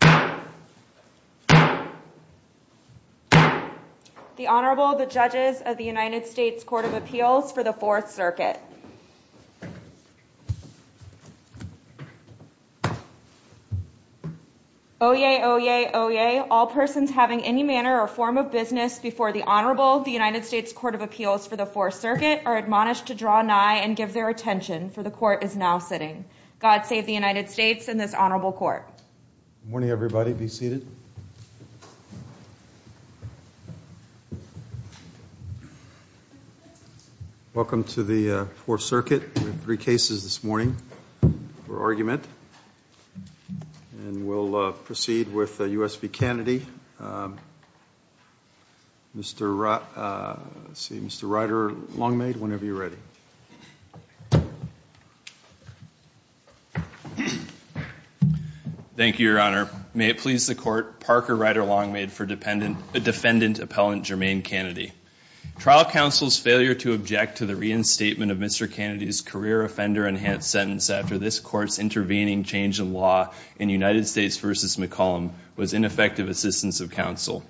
The Honorable, the Judges of the United States Court of Appeals for the Fourth Circuit. Oyez, oyez, oyez, all persons having any manner or form of business before the Honorable of the United States Court of Appeals for the Fourth Circuit are admonished to draw nigh and give their attention, for the Court is now sitting. God save the United States and this Honorable Court. Good morning everybody, be seated. Welcome to the Fourth Circuit. We have three cases this morning for argument and we'll proceed with U.S. v. Cannady. Mr. Ryder Longmade, whenever you're ready. Thank you, Your Honor. May it please the Court, Parker Ryder Longmade for Defendant Appellant Germaine Cannady. Trial counsel's failure to object to the reinstatement of Mr. Cannady's career offender-enhanced sentence after this Court's intervening change in law in United States v. McCollum was ineffective assistance of counsel.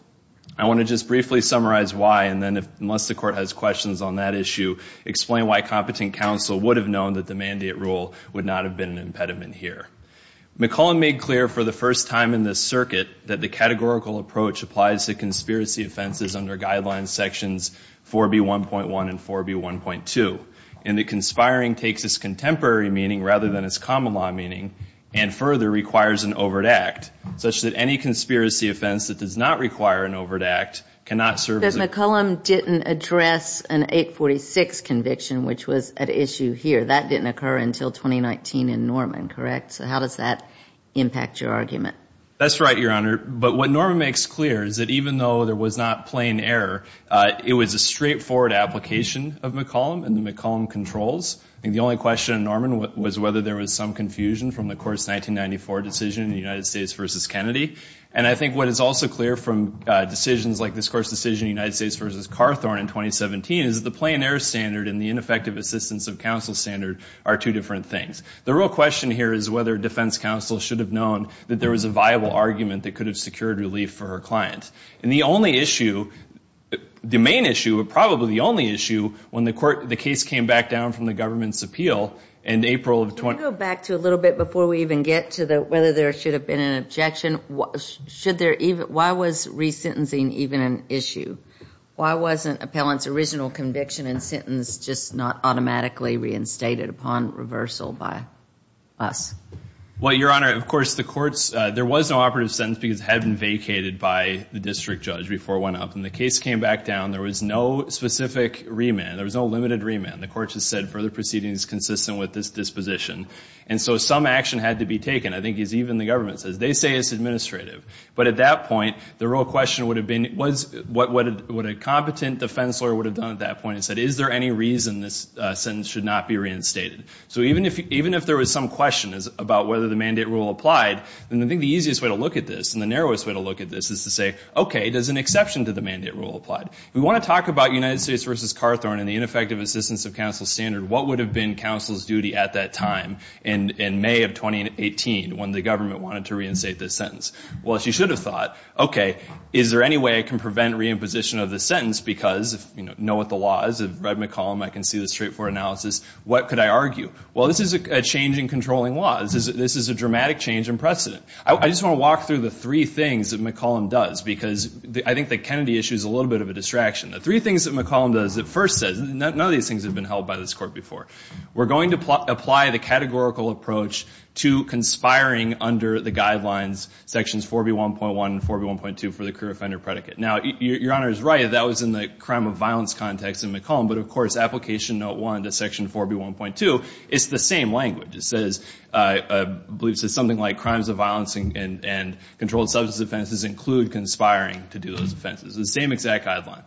I want to just briefly summarize why and then, unless the Court has questions on that issue, explain why competent counsel would have known that the mandate rule would not have been an impediment here. McCollum made clear for the first time in this circuit that the categorical approach applies to conspiracy offenses under Guidelines Sections 4B1.1 and 4B1.2 and that conspiring takes its contemporary meaning rather than its common law meaning and further requires an overt act such that any conspiracy offense that does not require an overt act cannot serve as a- Because McCollum didn't address an 846 conviction, which was at issue here. That didn't occur until 2019 in Norman, correct? So how does that impact your argument? That's right, Your Honor. But what Norman makes clear is that even though there was not plain error, it was a straightforward application of McCollum and the McCollum controls, and the only question in Norman was whether there was some confusion from the course 1994 decision in the United States v. Kennedy. And I think what is also clear from decisions like this course decision in the United States v. Carthorne in 2017 is that the plain error standard and the ineffective assistance of counsel standard are two different things. The real question here is whether defense counsel should have known that there was a viable argument that could have secured relief for her client. And the only issue, the main issue, but probably the only issue when the case came back down from the government's appeal in April of- Can we go back to a little bit before we even get to whether there should have been an objection? Why was re-sentencing even an issue? Why wasn't appellant's original conviction and sentence just not automatically reinstated upon reversal by us? Well, Your Honor, of course, the courts, there was no operative sentence because it had been vacated by the district judge before it went up. When the case came back down, there was no specific remand. There was no limited remand. The court just said further proceeding is consistent with this disposition. And so some action had to be taken. I think even the government says they say it's administrative. But at that point, the real question would have been what a competent defense lawyer would have done at that point and said is there any reason this sentence should not be reinstated? So even if there was some question about whether the mandate rule applied, I think the easiest way to look at this and the narrowest way to look at this is to say, okay, there's an exception to the mandate rule applied. We want to talk about United States v. Carthorne and the ineffective assistance of counsel's standard. What would have been counsel's duty at that time in May of 2018 when the government wanted to reinstate this sentence? Well, she should have thought, okay, is there any way I can prevent reimposition of the sentence? Because, you know, know what the law is. I've read McCollum. I can see the straightforward analysis. What could I argue? Well, this is a change in controlling laws. This is a dramatic change in precedent. I just want to walk through the three things that McCollum does because I think that Kennedy issues a little bit of a distraction. The three things that McCollum does, it first says, none of these things have been held by this Court before. We're going to apply the categorical approach to conspiring under the guidelines, Sections 4B1.1 and 4B1.2 for the career offender predicate. Now, Your Honor is right. That was in the crime of violence context in McCollum, but, of course, Application Note 1 to Section 4B1.2, it's the same language. It says, I believe it says something like crimes of violence and controlled substance offenses include conspiring to do those offenses. It's the same exact guideline.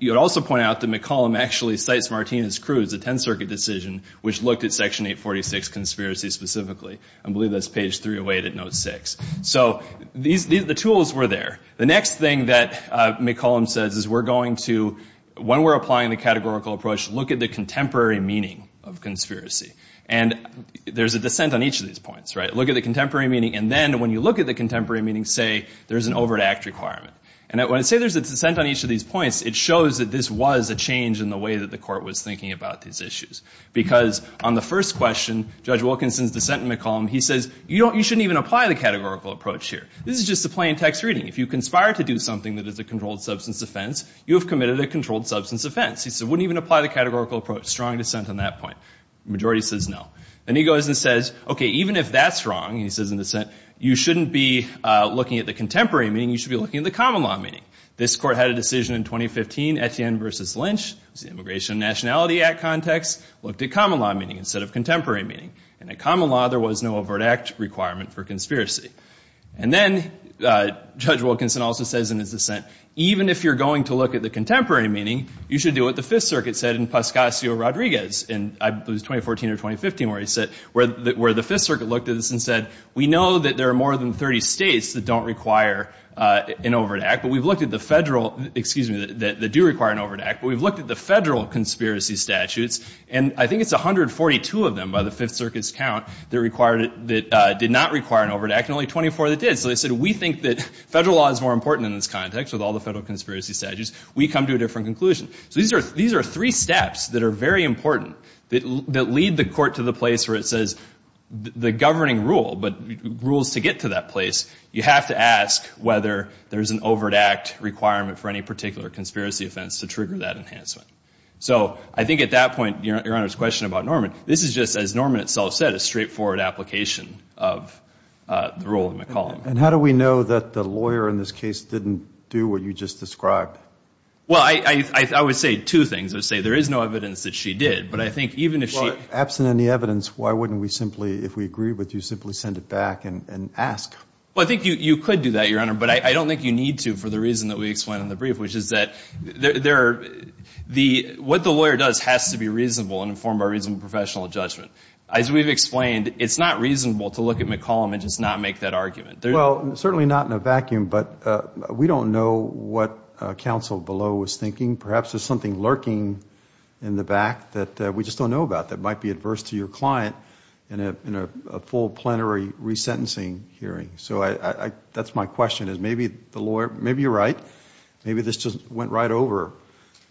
You would also point out that McCollum actually cites Martinez-Cruz, a Tenth Circuit decision, which looked at Section 846, conspiracy specifically. I believe that's page 308 at Note 6. So the tools were there. The next thing that McCollum says is we're going to, when we're applying the categorical approach, look at the contemporary meaning of conspiracy. And there's a dissent on each of these points, right? Look at the contemporary meaning. And then when you look at the contemporary meaning, say there's an over-the-act requirement. And when I say there's a dissent on each of these points, it shows that this was a change in the way that the court was thinking about these issues. Because on the first question, Judge Wilkinson's dissent in McCollum, he says, you shouldn't even apply the categorical approach here. This is just a plain text reading. If you conspire to do something that is a controlled substance offense, you have committed a controlled substance offense. He said, wouldn't even apply the categorical approach. Strong dissent on that point. The majority says no. Then he goes and says, OK, even if that's wrong, and he says in dissent, you shouldn't be looking at the contemporary meaning, you should be looking at the common law meaning. This court had a decision in 2015, Etienne v. Lynch, it was the Immigration and Nationality Act context, looked at common law meaning instead of contemporary meaning. And in common law, there was no over-the-act requirement for conspiracy. And then Judge Wilkinson also says in his dissent, even if you're going to look at the contemporary meaning, you should do what the Fifth Circuit said in Pascasio-Rodriguez in 2014 or 2015, where the Fifth Circuit looked at this and said, we know that there are more than 30 states that don't require an over-the-act, but we've looked at the Federal, excuse me, that do require an over-the-act, but we've looked at the Federal conspiracy statutes, and I think it's 142 of them by the Fifth Circuit's count that required it, that did not require an over-the-act, and only 24 that did. So they said, we think that Federal law is more important in this context with all the Federal conspiracy statutes. We come to a different conclusion. So these are three steps that are very important that lead the court to the place where it is. You have to ask whether there's an over-the-act requirement for any particular conspiracy offense to trigger that enhancement. So I think at that point, Your Honor's question about Norman, this is just, as Norman itself said, a straightforward application of the rule of McCollum. And how do we know that the lawyer in this case didn't do what you just described? Well, I would say two things. I would say there is no evidence that she did, but I think even if she Well, absent any evidence, why wouldn't we simply, if we agree with you, simply send it back and ask? Well, I think you could do that, Your Honor, but I don't think you need to for the reason that we explained in the brief, which is that what the lawyer does has to be reasonable and informed by reason of professional judgment. As we've explained, it's not reasonable to look at McCollum and just not make that argument. Well, certainly not in a vacuum, but we don't know what counsel below was thinking. Perhaps there's something lurking in the back that we just don't know about that might be resentencing hearing. So that's my question, is maybe the lawyer, maybe you're right, maybe this just went right over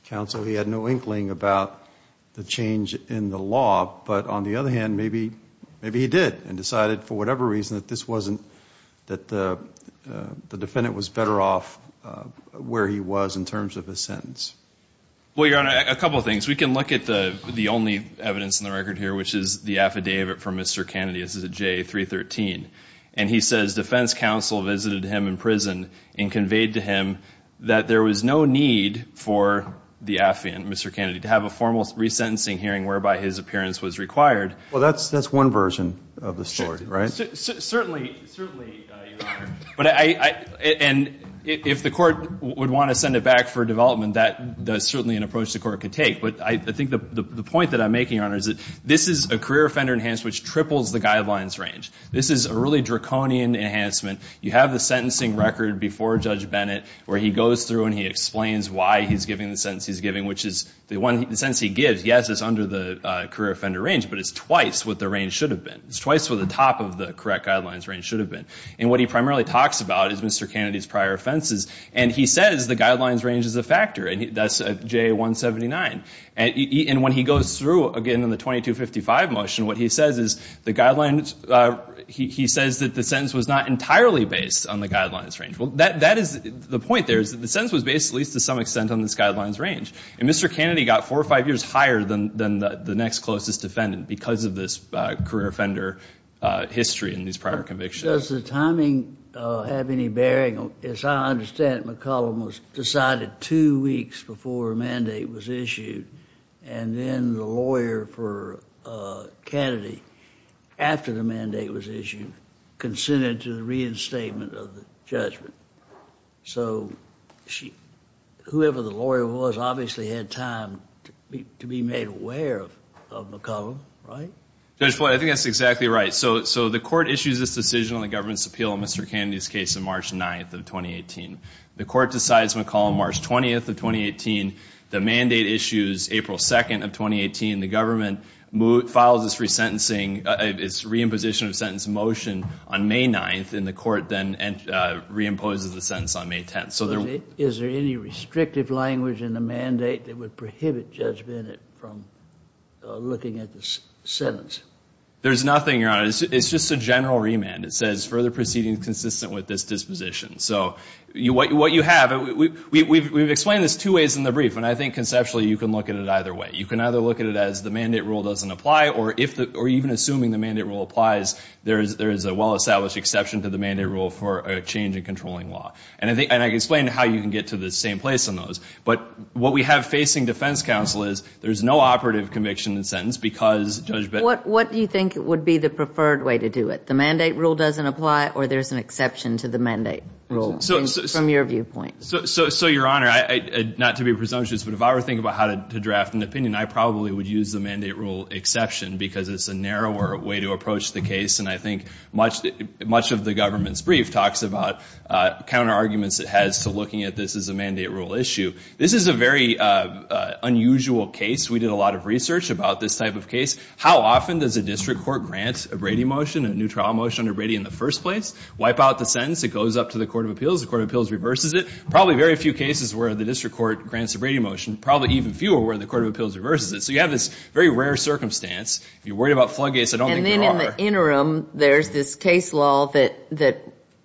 counsel. He had no inkling about the change in the law, but on the other hand, maybe he did and decided for whatever reason that this wasn't, that the defendant was better off where he was in terms of his sentence. Well, Your Honor, a couple of things. We can look at the only evidence in the record here, which is the affidavit from Mr. Kennedy. This is a J313. And he says defense counsel visited him in prison and conveyed to him that there was no need for the affiant, Mr. Kennedy, to have a formal resentencing hearing whereby his appearance was required. Well, that's one version of the story, right? Certainly, Your Honor. And if the court would want to send it back for development, that's certainly an approach the court could take. But I think the point that I'm making, Your Honor, is that this is a career offender in enhanced, which triples the guidelines range. This is a really draconian enhancement. You have the sentencing record before Judge Bennett, where he goes through and he explains why he's giving the sentence he's giving, which is the sentence he gives, yes, it's under the career offender range, but it's twice what the range should have been. It's twice what the top of the correct guidelines range should have been. And what he primarily talks about is Mr. Kennedy's prior offenses. And he says the guidelines range is a factor, and that's J179. And when he goes through again in the 2255 motion, what he says is the guidelines he says that the sentence was not entirely based on the guidelines range. Well, that is the point there is that the sentence was based at least to some extent on this guidelines range. And Mr. Kennedy got four or five years higher than the next closest defendant because of this career offender history in these prior convictions. Does the timing have any bearing? As I understand it, McCollum was decided two weeks before a mandate was issued. And then the lawyer for Kennedy, after the mandate was issued, consented to the reinstatement of the judgment. So whoever the lawyer was obviously had time to be made aware of McCollum, right? Judge Boyd, I think that's exactly right. So the court issues this decision on the government's appeal on Mr. Kennedy's case on March 9th of 2018. The court decides McCollum March 20th of 2018. The mandate issues April 2nd of 2018. The government files this reimposition of sentence motion on May 9th. And the court then reimposes the sentence on May 10th. Is there any restrictive language in the mandate that would prohibit judgment from looking at this sentence? There's nothing, Your Honor. It's just a general remand. It says further proceedings consistent with this disposition. So what you have, we've explained this two ways in the brief. And I think conceptually you can look at it either way. You can either look at it as the mandate rule doesn't apply, or even assuming the mandate rule applies, there is a well-established exception to the mandate rule for a change in controlling law. And I can explain how you can get to the same place on those. But what we have facing defense counsel is there's no operative conviction in the sentence because Judge Bittner What do you think would be the preferred way to do it? The mandate rule doesn't apply, or there's an exception to the mandate rule from your viewpoint. So, Your Honor, not to be presumptuous, but if I were to think about how to draft an opinion, I probably would use the mandate rule exception because it's a narrower way to approach the case. And I think much of the government's brief talks about counter arguments it has to looking at this as a mandate rule issue. This is a very unusual case. We did a lot of research about this type of case. How often does a district court grant a Brady motion, a new trial motion under Brady in the first place? Wipe out the sentence. It goes up to the Court of Appeals. The Court of Appeals reverses it. Probably very few cases where the district court grants a Brady motion. Probably even fewer where the Court of Appeals reverses it. So you have this very rare circumstance. If you're worried about floodgates, I don't think they're all there. And then in the interim, there's this case law that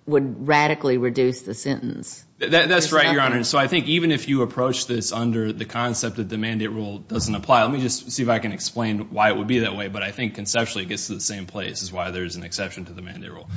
would radically reduce the sentence. That's right, Your Honor. So I think even if you approach this under the concept that the mandate rule doesn't apply, let me just see if I can explain why it would be that way. But I think conceptually, it gets to the same place as why there's an exception to the mandate rule.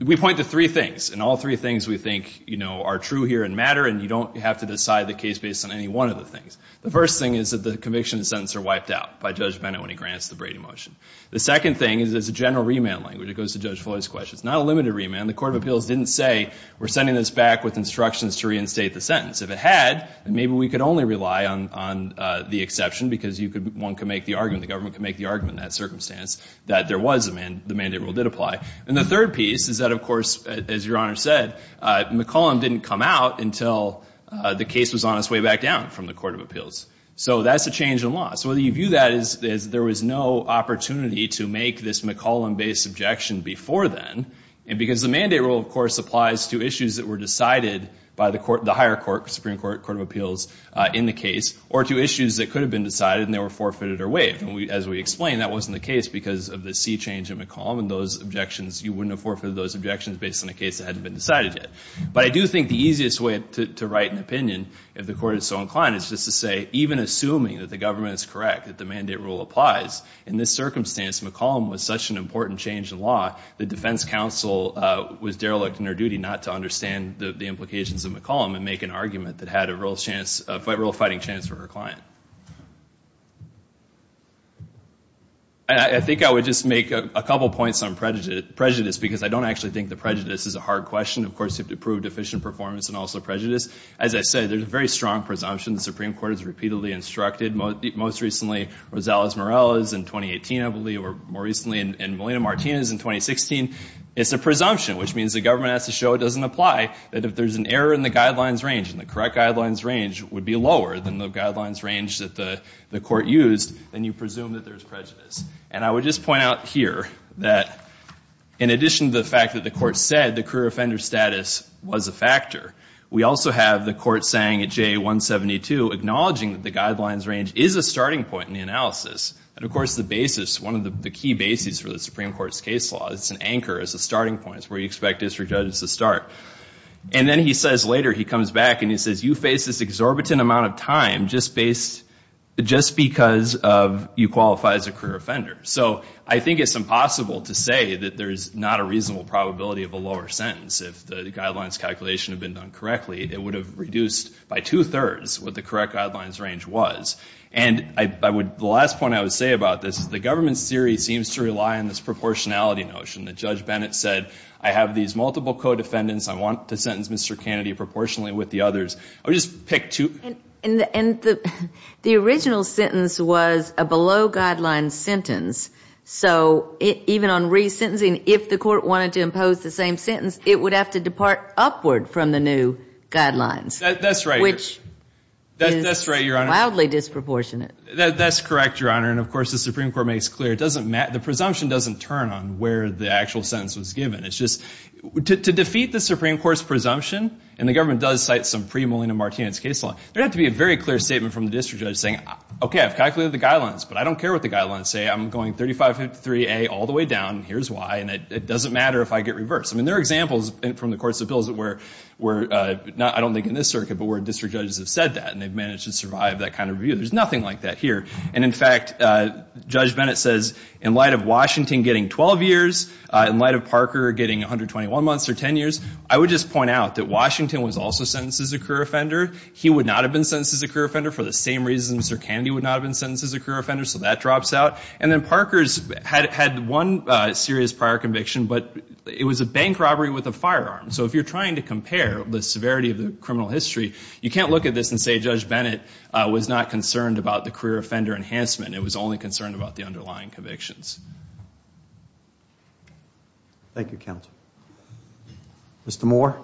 We point to three things. And all three things we think are true here and matter. And you don't have to decide the case based on any one of the things. The first thing is that the conviction and sentence are wiped out by Judge Bennett when he grants the Brady motion. The second thing is it's a general remand language. It goes to Judge Floyd's questions. Not a limited remand. The Court of Appeals didn't say, we're sending this back with instructions to reinstate the sentence. If it had, then maybe we could only rely on the exception because one could make the argument, the government could make the argument in that circumstance that the mandate rule did apply. And the third piece is that, of course, as Your Honor said, McCollum didn't come out until the case was on its way back down from the Court of Appeals. So that's a change in law. So whether you view that as there was no opportunity and because the mandate rule, of course, applies to issues that were decided by the higher court, Supreme Court of Appeals, in the case or to issues that could have been decided and they were forfeited or waived. And as we explained, that wasn't the case because of the sea change in McCollum and those objections. You wouldn't have forfeited those objections based on a case that hadn't been decided yet. But I do think the easiest way to write an opinion, if the Court is so inclined, is just to say, even assuming that the government is correct, that the mandate rule applies, in this circumstance, McCollum was such an important change in law, the defense counsel was derelict in her duty not to understand the implications of McCollum and make an argument that had a real fighting chance for her client. I think I would just make a couple of points on prejudice because I don't actually think the prejudice is a hard question. Of course, you have to prove deficient performance and also prejudice. As I said, there's a very strong presumption the Supreme Court has repeatedly instructed. Most recently, Rosales-Morales in 2018, I believe, or more recently in Molina-Martinez in 2016, it's a presumption, which means the government has to show it doesn't apply, that if there's an error in the guidelines range and the correct guidelines range would be lower than the guidelines range that the Court used, then you presume that there's prejudice. And I would just point out here that in addition to the fact that the Court said the career offender status was a factor, we also have the Court saying at JA-172, acknowledging that the guidelines range is a starting point in the analysis. And of course, the basis, one of the key bases for the Supreme Court's case law, it's an anchor as a starting point where you expect district judges to start. And then he says later, he comes back and he says, you face this exorbitant amount of time just because you qualify as a career offender. So I think it's impossible to say that there is not a reasonable probability of a lower sentence if the guidelines calculation had been done correctly. It would have reduced by 2 thirds what the correct guidelines range was. And the last point I would say about this is the government's theory seems to rely on this proportionality notion. That Judge Bennett said, I have these multiple co-defendants. I want to sentence Mr. Kennedy proportionally with the others. I would just pick two. And the original sentence was a below-guidelines sentence. So even on re-sentencing, if the Court wanted to impose the same sentence, it would have to depart upward from the new guidelines. That's right. That's right, Your Honor. That's wildly disproportionate. That's correct, Your Honor. And of course, the Supreme Court makes clear the presumption doesn't turn on where the actual sentence was given. It's just to defeat the Supreme Court's presumption, and the government does cite some pre-Molina-Martinez case law, there'd have to be a very clear statement from the district judge saying, OK, I've calculated the guidelines. But I don't care what the guidelines say. I'm going 3553A all the way down. Here's why. And it doesn't matter if I get reversed. I mean, there are examples from the courts of appeals that were not, I don't think, in this circuit, but where district judges have said that. And they've managed to survive that kind of review. There's nothing like that here. And in fact, Judge Bennett says, in light of Washington getting 12 years, in light of Parker getting 121 months or 10 years, I would just point out that Washington was also sentenced as a career offender. He would not have been sentenced as a career offender for the same reasons Sir Kennedy would not have been sentenced as a career offender. So that drops out. And then Parker's had one serious prior conviction, but it was a bank robbery with a firearm. So if you're trying to compare the severity of the criminal history, you can't look at this and say Judge Bennett was not concerned about the career offender enhancement. It was only concerned about the underlying convictions. Thank you, Counselor. Mr. Moore.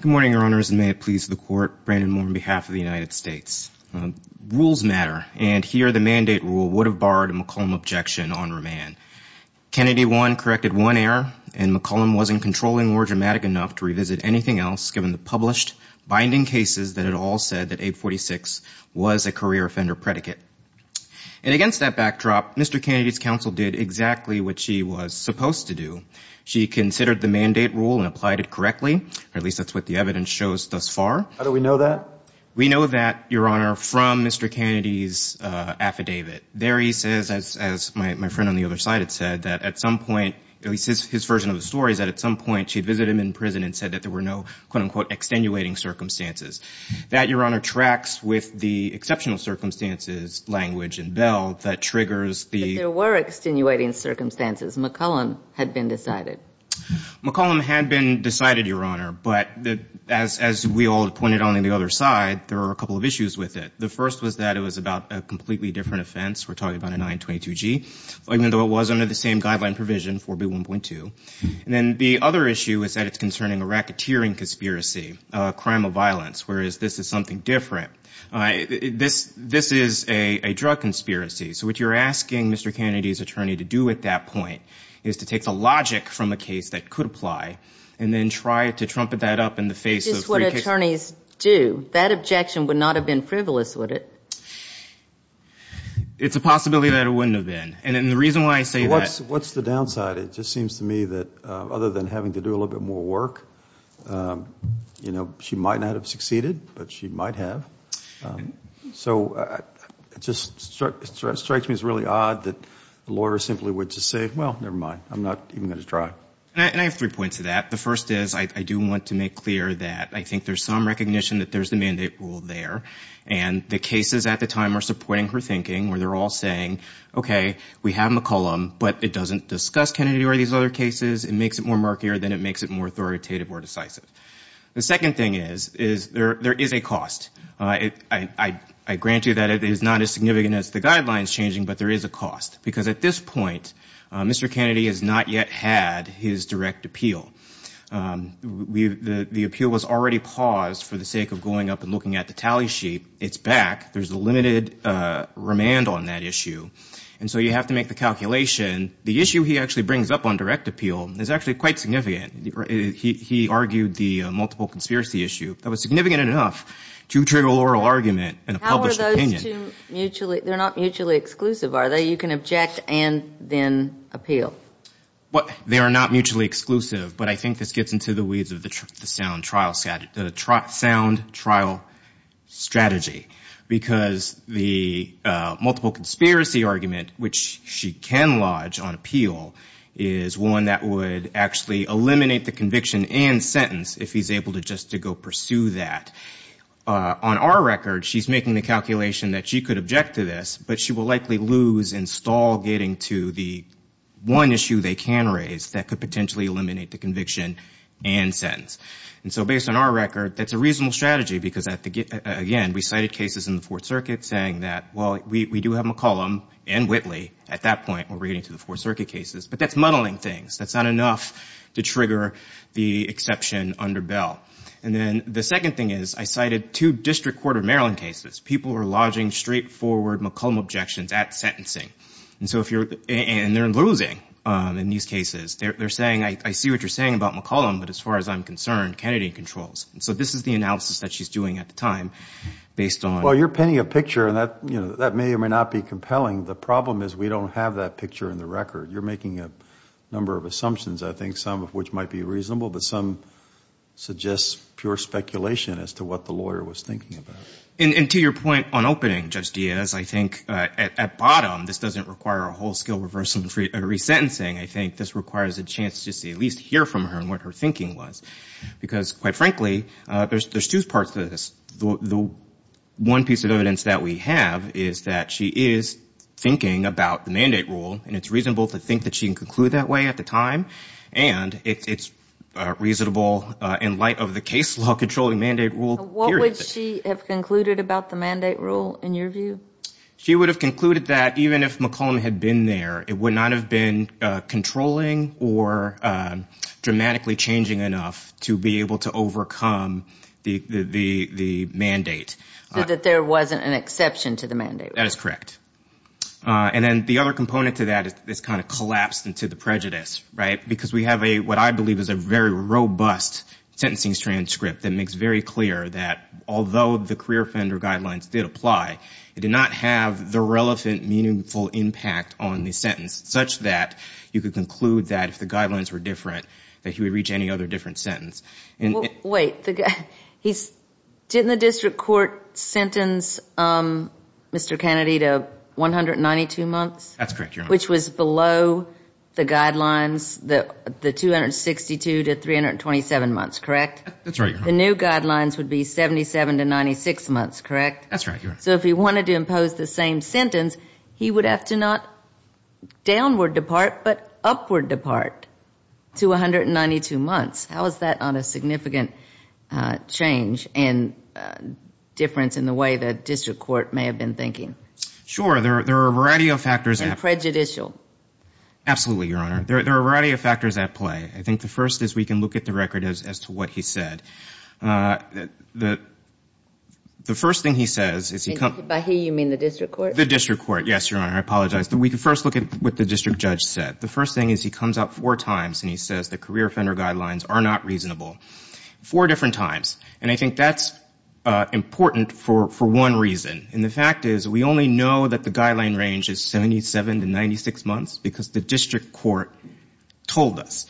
Good morning, Your Honors. And may it please the Court, Brandon Moore on behalf of the United States. Rules matter. And here, the mandate rule would have borrowed a McComb objection on remand. Kennedy one corrected one error, and McComb wasn't controlling or dramatic enough to revisit anything else, given the published binding cases that had all said that 846 was a career offender predicate. And against that backdrop, Mr. Kennedy's counsel did exactly what she was supposed to do. She considered the mandate rule and applied it correctly. At least, that's what the evidence shows thus far. How do we know that? We know that, Your Honor, from Mr. Kennedy's affidavit. There, he says, as my friend on the other side had said, that at some point, at least his version of the story is that at some point, she visited him in prison and said that there were no, quote unquote, extenuating circumstances. That, Your Honor, tracks with the exceptional circumstances language in Bell that triggers the- But there were extenuating circumstances. McComb had been decided. McComb had been decided, Your Honor. But as we all had pointed out on the other side, there were a couple of issues with it. The first was that it was about a completely different offense. We're talking about a 922G, even though it was under the same guideline provision, 4B1.2. And then the other issue is that it's concerning a racketeering conspiracy, a crime of violence, whereas this is something different. This is a drug conspiracy. So what you're asking Mr. Kennedy's attorney to do at that point is to take the logic from a case that could apply and then try to trumpet that up in the face of three cases. Just what attorneys do. That objection would not have been frivolous, would it? It's a possibility that it wouldn't have been. And the reason why I say that- What's the downside? It just seems to me that other than having to do a little bit more work, she might not have succeeded, but she might have. So it just strikes me as really odd that the lawyer simply would just say, well, never mind. I'm not even going to try. And I have three points to that. The first is I do want to make clear that I think there's some recognition that there's a mandate rule there. And the cases at the time are supporting her thinking, where they're all saying, OK, we have McCollum, but it doesn't discuss Kennedy or these other cases. It makes it more murkier than it makes it more authoritative or decisive. The second thing is there is a cost. I grant you that it is not as significant as the guidelines changing, but there is a cost. Because at this point, Mr. Kennedy has not yet had his direct appeal. The appeal was already paused for the sake of going up and looking at the tally sheet. It's back. There's a limited remand on that issue. And so you have to make the calculation. The issue he actually brings up on direct appeal is actually quite significant. He argued the multiple conspiracy issue. That was significant enough to trigger an oral argument and a published opinion. How are those two mutually? They're not mutually exclusive, are they? You can object and then appeal. They are not mutually exclusive, but I think this gets into the weeds of the sound trial sound trial strategy, because the multiple conspiracy argument, which she can lodge on appeal, is one that would actually eliminate the conviction and sentence if he's able to just to go pursue that. On our record, she's making the calculation that she could object to this, but she will likely lose and stall getting to the one issue they can raise that could potentially eliminate the conviction and sentence. And so based on our record, that's a reasonable strategy, because again, we cited cases in the Fourth Circuit saying that, well, we do have McCollum and Whitley at that point when we're getting to the Fourth Circuit cases, but that's muddling things. That's not enough to trigger the exception under Bell. And then the second thing is, I cited two district court of Maryland cases. People were lodging straightforward McCollum objections at sentencing, and they're losing in these cases. I see what you're saying about McCollum, but as far as I'm concerned, Kennedy controls. And so this is the analysis that she's doing at the time based on- Well, you're painting a picture, and that may or may not be compelling. The problem is we don't have that picture in the record. You're making a number of assumptions, I think, some of which might be reasonable, but some suggest pure speculation as to what the lawyer was thinking about. And to your point on opening, Judge Diaz, I think at bottom, this doesn't require a whole scale reversal and resentencing. I think this requires a chance to at least hear from her on what her thinking was. Because quite frankly, there's two parts to this. The one piece of evidence that we have is that she is thinking about the mandate rule, and it's reasonable to think that she can conclude that way at the time. And it's reasonable in light of the case law controlling mandate rule period. What would she have concluded about the mandate rule in your view? She would have concluded that even if McCollum had been there, it would not have been controlling or dramatically changing enough to be able to overcome the mandate. So that there wasn't an exception to the mandate. That is correct. And then the other component to that is this kind of collapse into the prejudice. Because we have what I believe is a very robust sentencing transcript that makes very clear that although the career offender guidelines did apply, it did not have the relevant meaningful impact on the sentence, such that you could conclude that if the guidelines were different, that he would reach any other different sentence. Wait, didn't the district court sentence Mr. Kennedy to 192 months? That's correct, Your Honor. Which was below the guidelines, the 262 to 327 months, correct? That's right, Your Honor. The new guidelines would be 77 to 96 months, correct? That's right, Your Honor. So if he wanted to impose the same sentence, he would have to not downward depart, but upward depart to 192 months. How is that not a significant change and difference in the way that district court may have been thinking? Sure, there are a variety of factors. And prejudicial. Absolutely, Your Honor. There are a variety of factors at play. I think the first is we can look at the record as to what he said. The first thing he says is he comes up. By he, you mean the district court? The district court, yes, Your Honor. I apologize. But we can first look at what the district judge said. The first thing is he comes up four times and he says the career offender guidelines are not reasonable, four different times. And I think that's important for one reason. And the fact is we only know that the guideline range is 77 to 96 months, because the district court told us.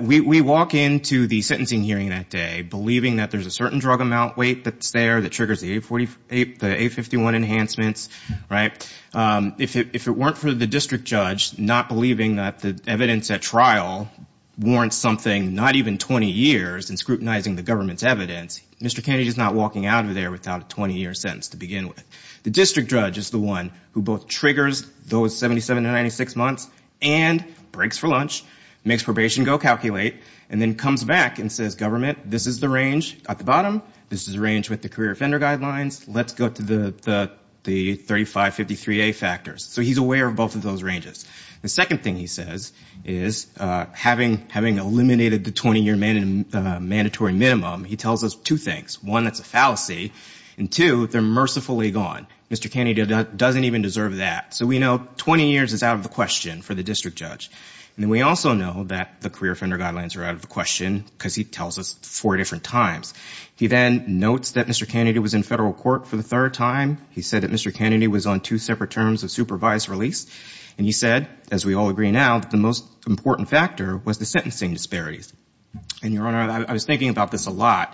We walk into the sentencing hearing that day, believing that there's a certain drug amount weight that's there that triggers the A51 enhancements. If it weren't for the district judge not believing that the evidence at trial warrants something, not even 20 years, in scrutinizing the government's evidence, Mr. Kennedy is not walking out of there without a 20-year sentence to begin with. The district judge is the one who both triggers those 77 to 96 months and breaks for lunch, makes probation go calculate, and then comes back and says, government, this is the range at the bottom. This is the range with the career offender guidelines. Let's go to the 3553A factors. So he's aware of both of those ranges. The second thing he says is, having eliminated the 20-year mandatory minimum, he tells us two things. One, that's a fallacy. And two, they're mercifully gone. Mr. Kennedy doesn't even deserve that. So we know 20 years is out of the question for the district judge. And we also know that the career offender guidelines are out of the question because he tells us four different times. He then notes that Mr. Kennedy was in federal court for the third time. He said that Mr. Kennedy was on two separate terms of supervised release. And he said, as we all agree now, the most important factor was the sentencing disparities. And Your Honor, I was thinking about this a lot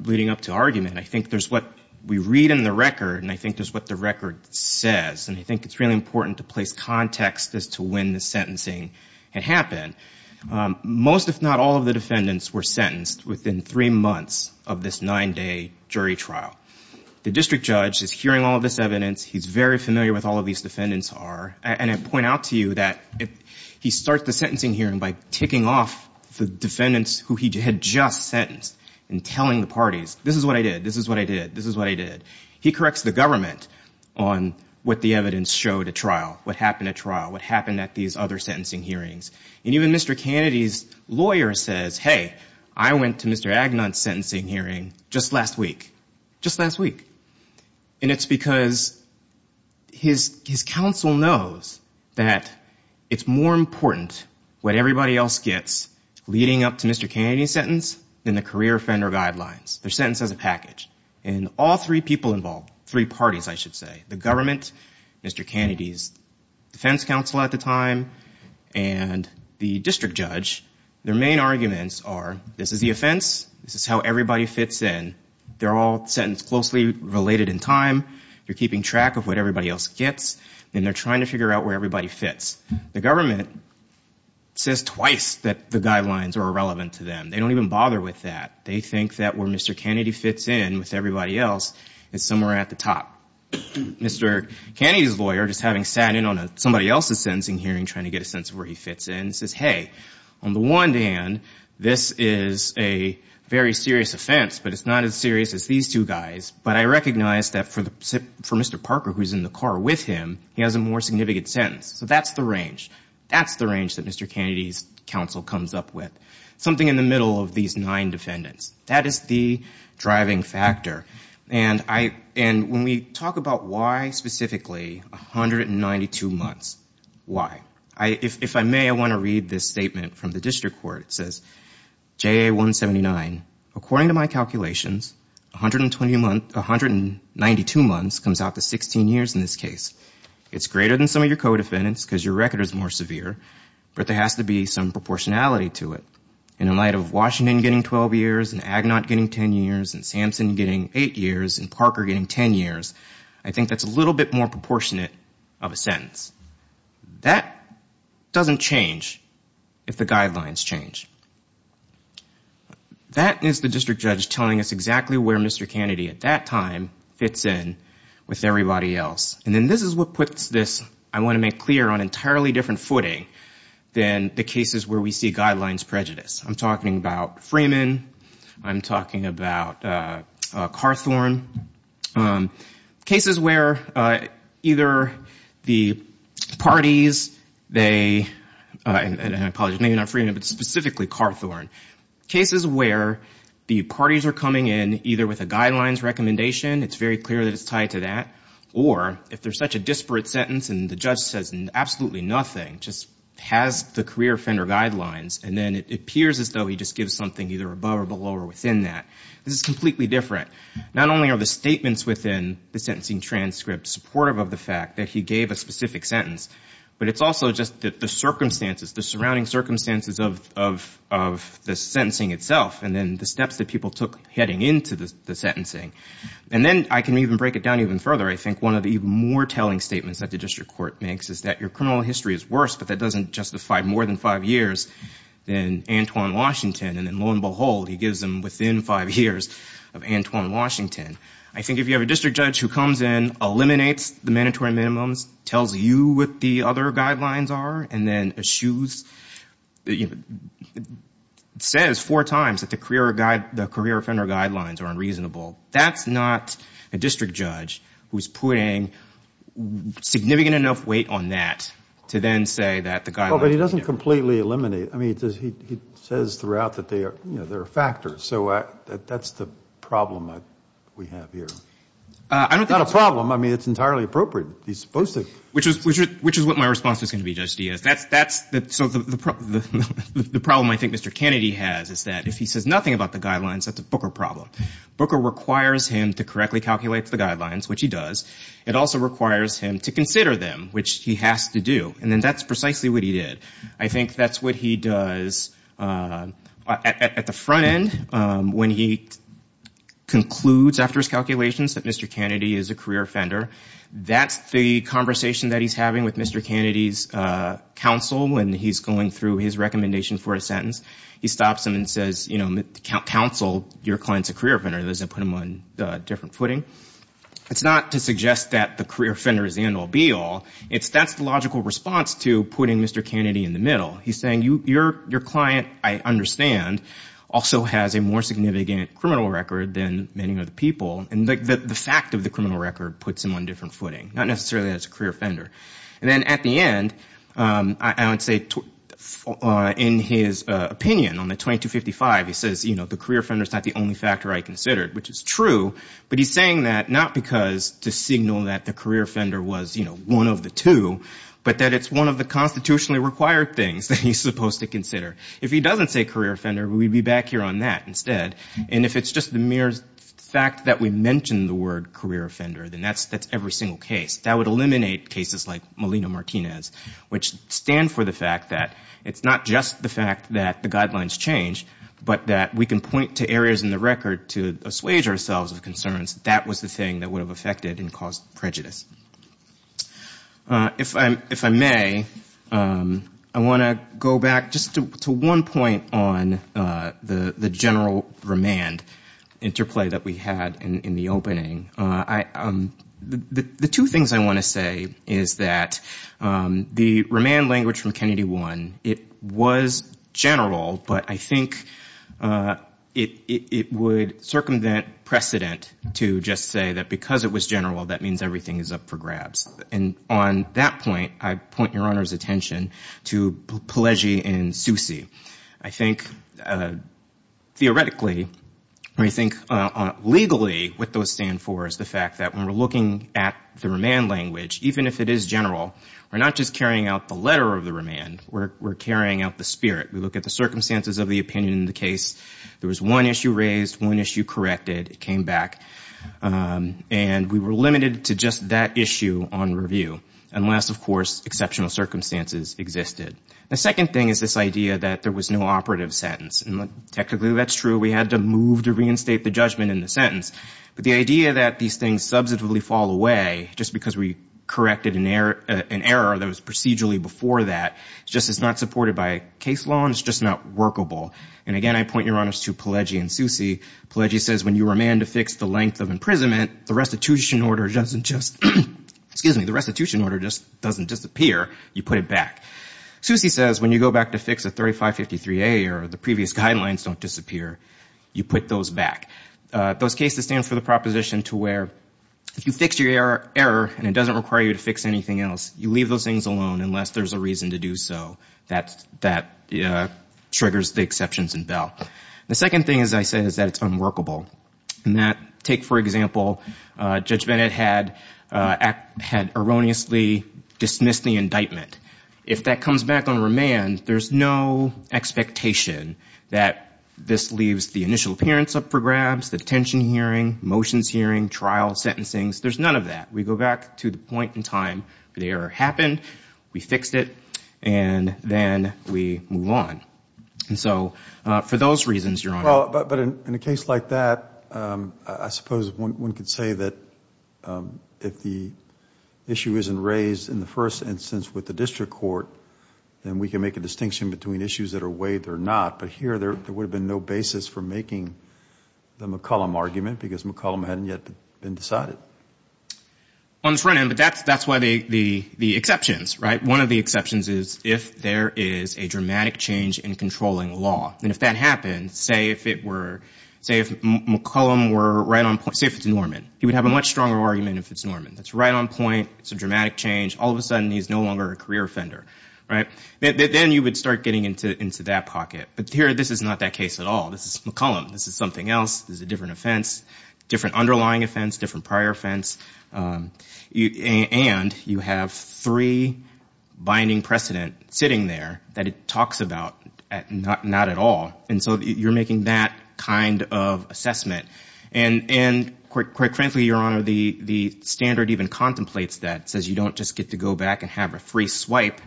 leading up to argument. I think there's what we read in the record, and I think there's what the record says. And I think it's really important to place context as to when the sentencing had happened. Most, if not all, of the defendants were sentenced within three months of this nine-day jury trial. The district judge is hearing all of this evidence. He's very familiar with all of these defendants are. And I point out to you that he starts the sentencing hearing by ticking off the defendants who he had just sentenced and telling the parties, this is what I did. This is what I did. This is what I did. He corrects the government on what the evidence showed at trial, what happened at trial, what happened at these other sentencing hearings. And even Mr. Kennedy's lawyer says, hey, I went to Mr. Agnon's sentencing hearing just last week, just last week. And it's because his counsel knows that it's more important what everybody else gets leading up to Mr. Kennedy's sentence than the career offender guidelines. Their sentence has a package. And all three people involved, three parties, I should say, the government, Mr. Kennedy's defense counsel at the time, and the district judge, their main arguments are this is the offense. This is how everybody fits in. They're all sentenced closely related in time. You're keeping track of what everybody else gets. And they're trying to figure out where everybody fits. The government says twice that the guidelines are irrelevant to them. They don't even bother with that. They think that where Mr. Kennedy fits in with everybody else is somewhere at the top. Mr. Kennedy's lawyer, just having sat in on somebody else's sentencing hearing trying to get a sense of where he fits in, says, hey, on the one hand, this is a very serious offense. But it's not as serious as these two guys. But I recognize that for Mr. Parker, who's in the car with him, he has a more significant sentence. So that's the range. That's the range that Mr. Kennedy's counsel comes up with, something in the middle of these nine defendants. That is the driving factor. And when we talk about why, specifically, 192 months, why? If I may, I want to read this statement from the district court. It says, JA-179, according to my calculations, 192 months comes out to 16 years in this case. It's greater than some of your co-defendants, because your record is more severe. But there has to be some proportionality to it. In light of Washington getting 12 years, and Agnot getting 10 years, and Samson getting eight years, and Parker getting 10 years, I think that's a little bit more proportionate of a sentence. That doesn't change if the guidelines change. That is the district judge telling us exactly where Mr. Kennedy, at that time, fits in with everybody else. And then this is what puts this, I want to make clear, on entirely different footing than the cases where we see guidelines prejudice. I'm talking about Freeman. I'm talking about Carthorne. Cases where either the parties, they, and I apologize, maybe not Freeman, but specifically Carthorne, cases where the parties are coming in, either with a guidelines recommendation, it's very clear that it's tied to that, or if there's such a disparate sentence, and the judge says absolutely nothing, just has the career offender guidelines, and then it appears as though he just gives something either above or below or within that. This is completely different. Not only are the statements within the sentencing transcript supportive of the fact that he gave a specific sentence, but it's also just that the circumstances, the surrounding circumstances of the sentencing itself, and then the steps that people took heading into the sentencing. And then I can even break it down even further. I think one of the even more telling statements that the district court makes is that your criminal history is but that doesn't justify more than five years than Antoine Washington, and then lo and behold, he gives them within five years of Antoine Washington. I think if you have a district judge who comes in, eliminates the mandatory minimums, tells you what the other guidelines are, and then eschews, it says four times that the career offender guidelines are unreasonable. That's not a district judge who's putting significant enough weight on that to then say that the guidelines are different. Well, but he doesn't completely eliminate. I mean, he says throughout that there are factors. So that's the problem we have here. I don't think it's- It's not a problem. I mean, it's entirely appropriate. He's supposed to- Which is what my response was gonna be, Judge Diaz. So the problem I think Mr. Kennedy has is that if he says nothing about the guidelines, that's a Booker problem. Booker requires him to correctly calculate the guidelines, which he does. It also requires him to consider them, which he has to do. And then that's precisely what he did. I think that's what he does at the front end when he concludes after his calculations that Mr. Kennedy is a career offender. That's the conversation that he's having with Mr. Kennedy's counsel when he's going through his recommendation for a sentence. He stops him and says, counsel, your client's a career offender. He doesn't put him on a different footing. It's not to suggest that the career offender is the end all, be all. That's the logical response to putting Mr. Kennedy in the middle. He's saying, your client, I understand, also has a more significant criminal record than many other people. And the fact of the criminal record puts him on a different footing. Not necessarily that he's a career offender. And then at the end, I would say, in his opinion on the 2255, he says, the career offender's not the only factor I considered, which is true, but he's saying that not because to signal that the career offender was one of the two, but that it's one of the constitutionally required things that he's supposed to consider. If he doesn't say career offender, we'd be back here on that instead. And if it's just the mere fact that we mentioned the word career offender, then that's every single case. That would eliminate cases like Molina-Martinez, which stand for the fact that it's not just the fact that the guidelines change, but that we can point to areas in the record to assuage ourselves of concerns. That was the thing that would have affected and caused prejudice. If I may, I wanna go back just to one point on the general remand interplay that we had in the opening. The two things I wanna say is that the remand language from Kennedy One, it was general, but I think it would circumvent precedent to just say that because it was general, that means everything is up for grabs. And on that point, I point your honor's attention to Pellegi and Soucy. I think theoretically, I think legally what those stand for is the fact that when we're looking at the remand language, even if it is general, we're not just carrying out the letter of the remand, we're carrying out the spirit. We look at the circumstances of the opinion in the case. There was one issue raised, one issue corrected, it came back, and we were limited to just that issue on review, unless, of course, exceptional circumstances existed. The second thing is this idea that there was no operative sentence. And technically, that's true. We had to move to reinstate the judgment in the sentence. But the idea that these things substantively fall away just because we corrected an error that was procedurally before that, it's just it's not supported by case law and it's just not workable. And again, I point your honors to Pellegi and Soucy. Pellegi says when you remand to fix the length of imprisonment, the restitution order doesn't just, excuse me, the restitution order just doesn't disappear, you put it back. Soucy says when you go back to fix a 3553A or the previous guidelines don't disappear, you put those back. Those cases stand for the proposition to where if you fix your error and it doesn't require you to fix anything else, you leave those things alone unless there's a reason to do so that triggers the exceptions in Bell. The second thing, as I said, is that it's unworkable. And that, take for example, Judge Bennett had erroneously dismissed the indictment. If that comes back on remand, there's no expectation that this leaves the initial appearance of programs, the detention hearing, motions hearing, trial sentencing, there's none of that. We go back to the point in time, the error happened, we fixed it, and then we move on. And so, for those reasons, Your Honor. Well, but in a case like that, I suppose one could say that if the issue isn't raised in the first instance with the district court, then we can make a distinction between issues that are weighed or not. But here, there would have been no basis for making the McCollum argument because McCollum hadn't yet been decided. On the front end, but that's why the exceptions, right? One of the exceptions is if there is a dramatic change in controlling law. And if that happened, say if it were, say if McCollum were right on point, say if it's Norman, he would have a much stronger argument if it's Norman. That's right on point, it's a dramatic change, all of a sudden, he's no longer a career offender, right? Then you would start getting into that pocket. But here, this is not that case at all. This is McCollum, this is something else, this is a different offense, different underlying offense, different prior offense. And you have three binding precedent sitting there that it talks about, not at all. And so you're making that kind of assessment. And quite frankly, Your Honor, the standard even contemplates that, says you don't just get to go back and have a free swipe.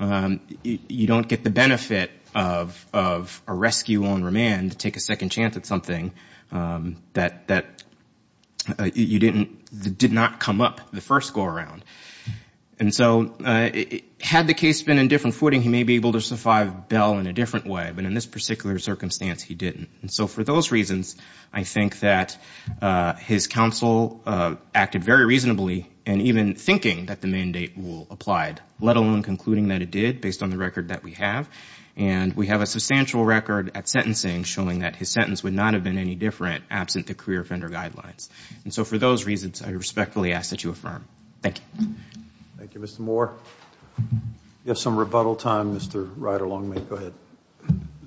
You don't get the benefit of a rescue on remand to take a second chance at something that did not come up the first go around. And so had the case been in different footing, he may be able to survive Bell in a different way, but in this particular circumstance, he didn't. And so for those reasons, I think that his counsel acted very reasonably, and even thinking that the mandate will apply, let alone concluding that it did based on the record that we have. And we have a substantial record at sentencing showing that his sentence would not have been any different absent the career offender guidelines. And so for those reasons, I respectfully ask that you affirm. Thank you. Thank you, Mr. Moore. You have some rebuttal time, Mr. Ryder-Longmead. Go ahead.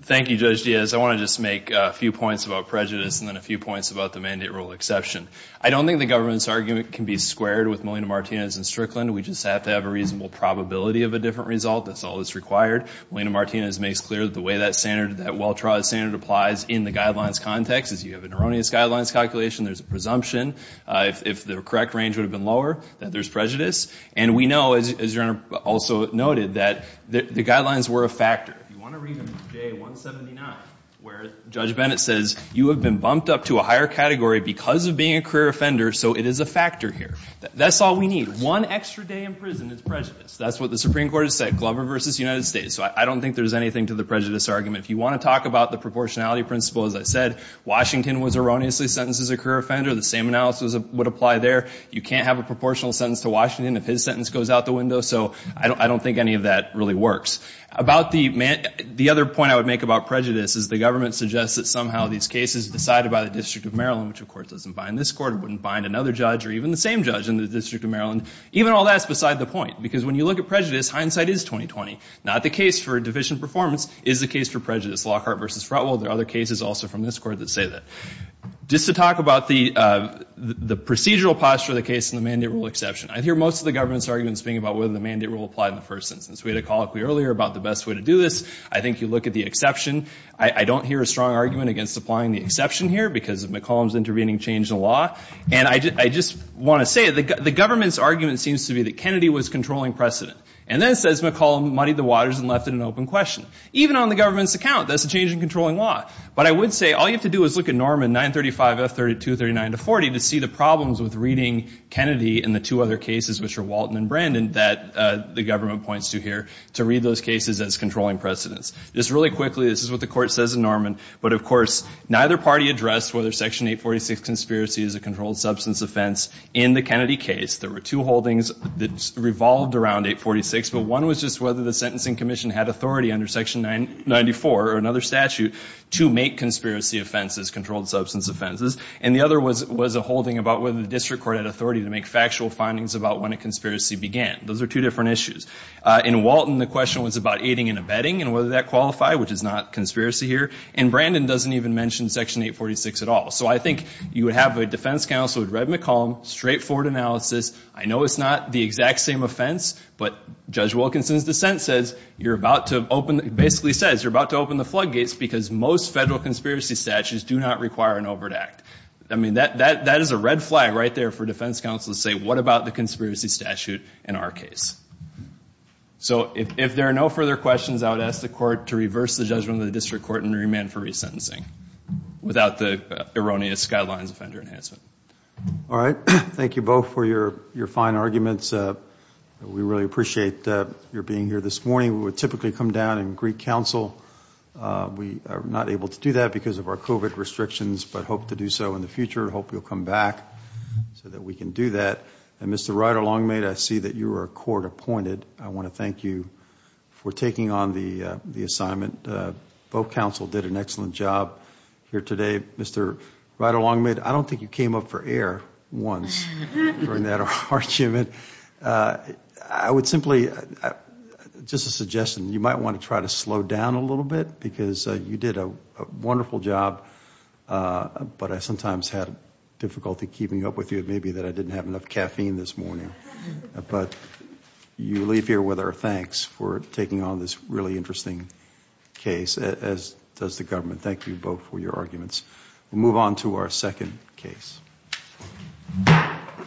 Thank you, Judge Diaz. I want to just make a few points about prejudice and then a few points about the mandate rule exception. I don't think the government's argument can be squared with Molina-Martinez and Strickland. We just have to have a reasonable probability of a different result. That's all that's required. Molina-Martinez makes clear that the way that standard, that well-trod standard applies in the guidelines context is you have an erroneous guidelines calculation, there's a presumption. If the correct range would have been lower, then there's prejudice. And we know, as your Honor also noted, that the guidelines were a factor. If you want to read them in J179, where Judge Bennett says, you have been bumped up to a higher category because of being a career offender, so it is a factor here. That's all we need. One extra day in prison is prejudice. That's what the Supreme Court has said, Glover versus United States. So I don't think there's anything to the prejudice argument. If you want to talk about the proportionality principle, as I said, Washington was erroneously sentenced as a career offender, the same analysis would apply there. You can't have a proportional sentence to Washington if his sentence goes out the window. So I don't think any of that really works. About the, the other point I would make about prejudice is the government suggests that somehow these cases decided by the District of Maryland, which of course doesn't bind this court, it wouldn't bind another judge or even the same judge in the District of Maryland. Even all that's beside the point because when you look at prejudice, hindsight is 20-20. Not the case for deficient performance, is the case for prejudice, Lockhart versus Fretwell. There are other cases also from this court that say that. Just to talk about the procedural posture of the case and the mandate rule exception. I hear most of the government's arguments being about whether the mandate rule applied in the first instance. We had a call up earlier about the best way to do this. I think you look at the exception. I don't hear a strong argument against applying the exception here because of McCollum's intervening change in law. And I just want to say the government's argument seems to be that Kennedy was controlling precedent. And then it says McCollum muddied the waters and left it an open question. Even on the government's account, that's a change in controlling law. But I would say all you have to do is look at Norman 935F3239-40 to see the problems with reading Kennedy and the two other cases, which are Walton and Brandon, that the government points to here to read those cases as controlling precedence. Just really quickly, this is what the court says in Norman. But of course, neither party addressed whether Section 846 conspiracy is a controlled substance offense in the Kennedy case. There were two holdings that revolved around 846, but one was just whether the sentencing commission had authority under Section 994, or another statute, to make conspiracy offenses, controlled substance offenses. And the other was a holding about whether the district court had authority to make factual findings about when a conspiracy began. Those are two different issues. In Walton, the question was about aiding and abetting and whether that qualified, which is not conspiracy here. And Brandon doesn't even mention Section 846 at all. So I think you would have a defense counsel who'd read McCollum, straightforward analysis. I know it's not the exact same offense, but Judge Wilkinson's dissent says basically says, you're about to open the floodgates because most federal conspiracy statutes do not require an overt act. I mean, that is a red flag right there for defense counsel to say, what about the conspiracy statute in our case? So if there are no further questions, I would ask the court to reverse the judgment of the district court and remand for resentencing without the erroneous guidelines offender enhancement. All right, thank you both for your fine arguments. We really appreciate your being here this morning. We would typically come down and greet counsel. We are not able to do that because of our COVID restrictions but hope to do so in the future. Hope you'll come back so that we can do that. And Mr. Rider-Longmaid, I see that you are a court appointed. I wanna thank you for taking on the assignment. Both counsel did an excellent job here today. Mr. Rider-Longmaid, I don't think you came up for air once during that argument. I would simply, just a suggestion, you might wanna try to slow down a little bit because you did a wonderful job but I sometimes have difficulty keeping up with you. It may be that I didn't have enough caffeine this morning but you leave here with our thanks for taking on this really interesting case as does the government. Thank you both for your arguments. We'll move on to our second case. Thank you.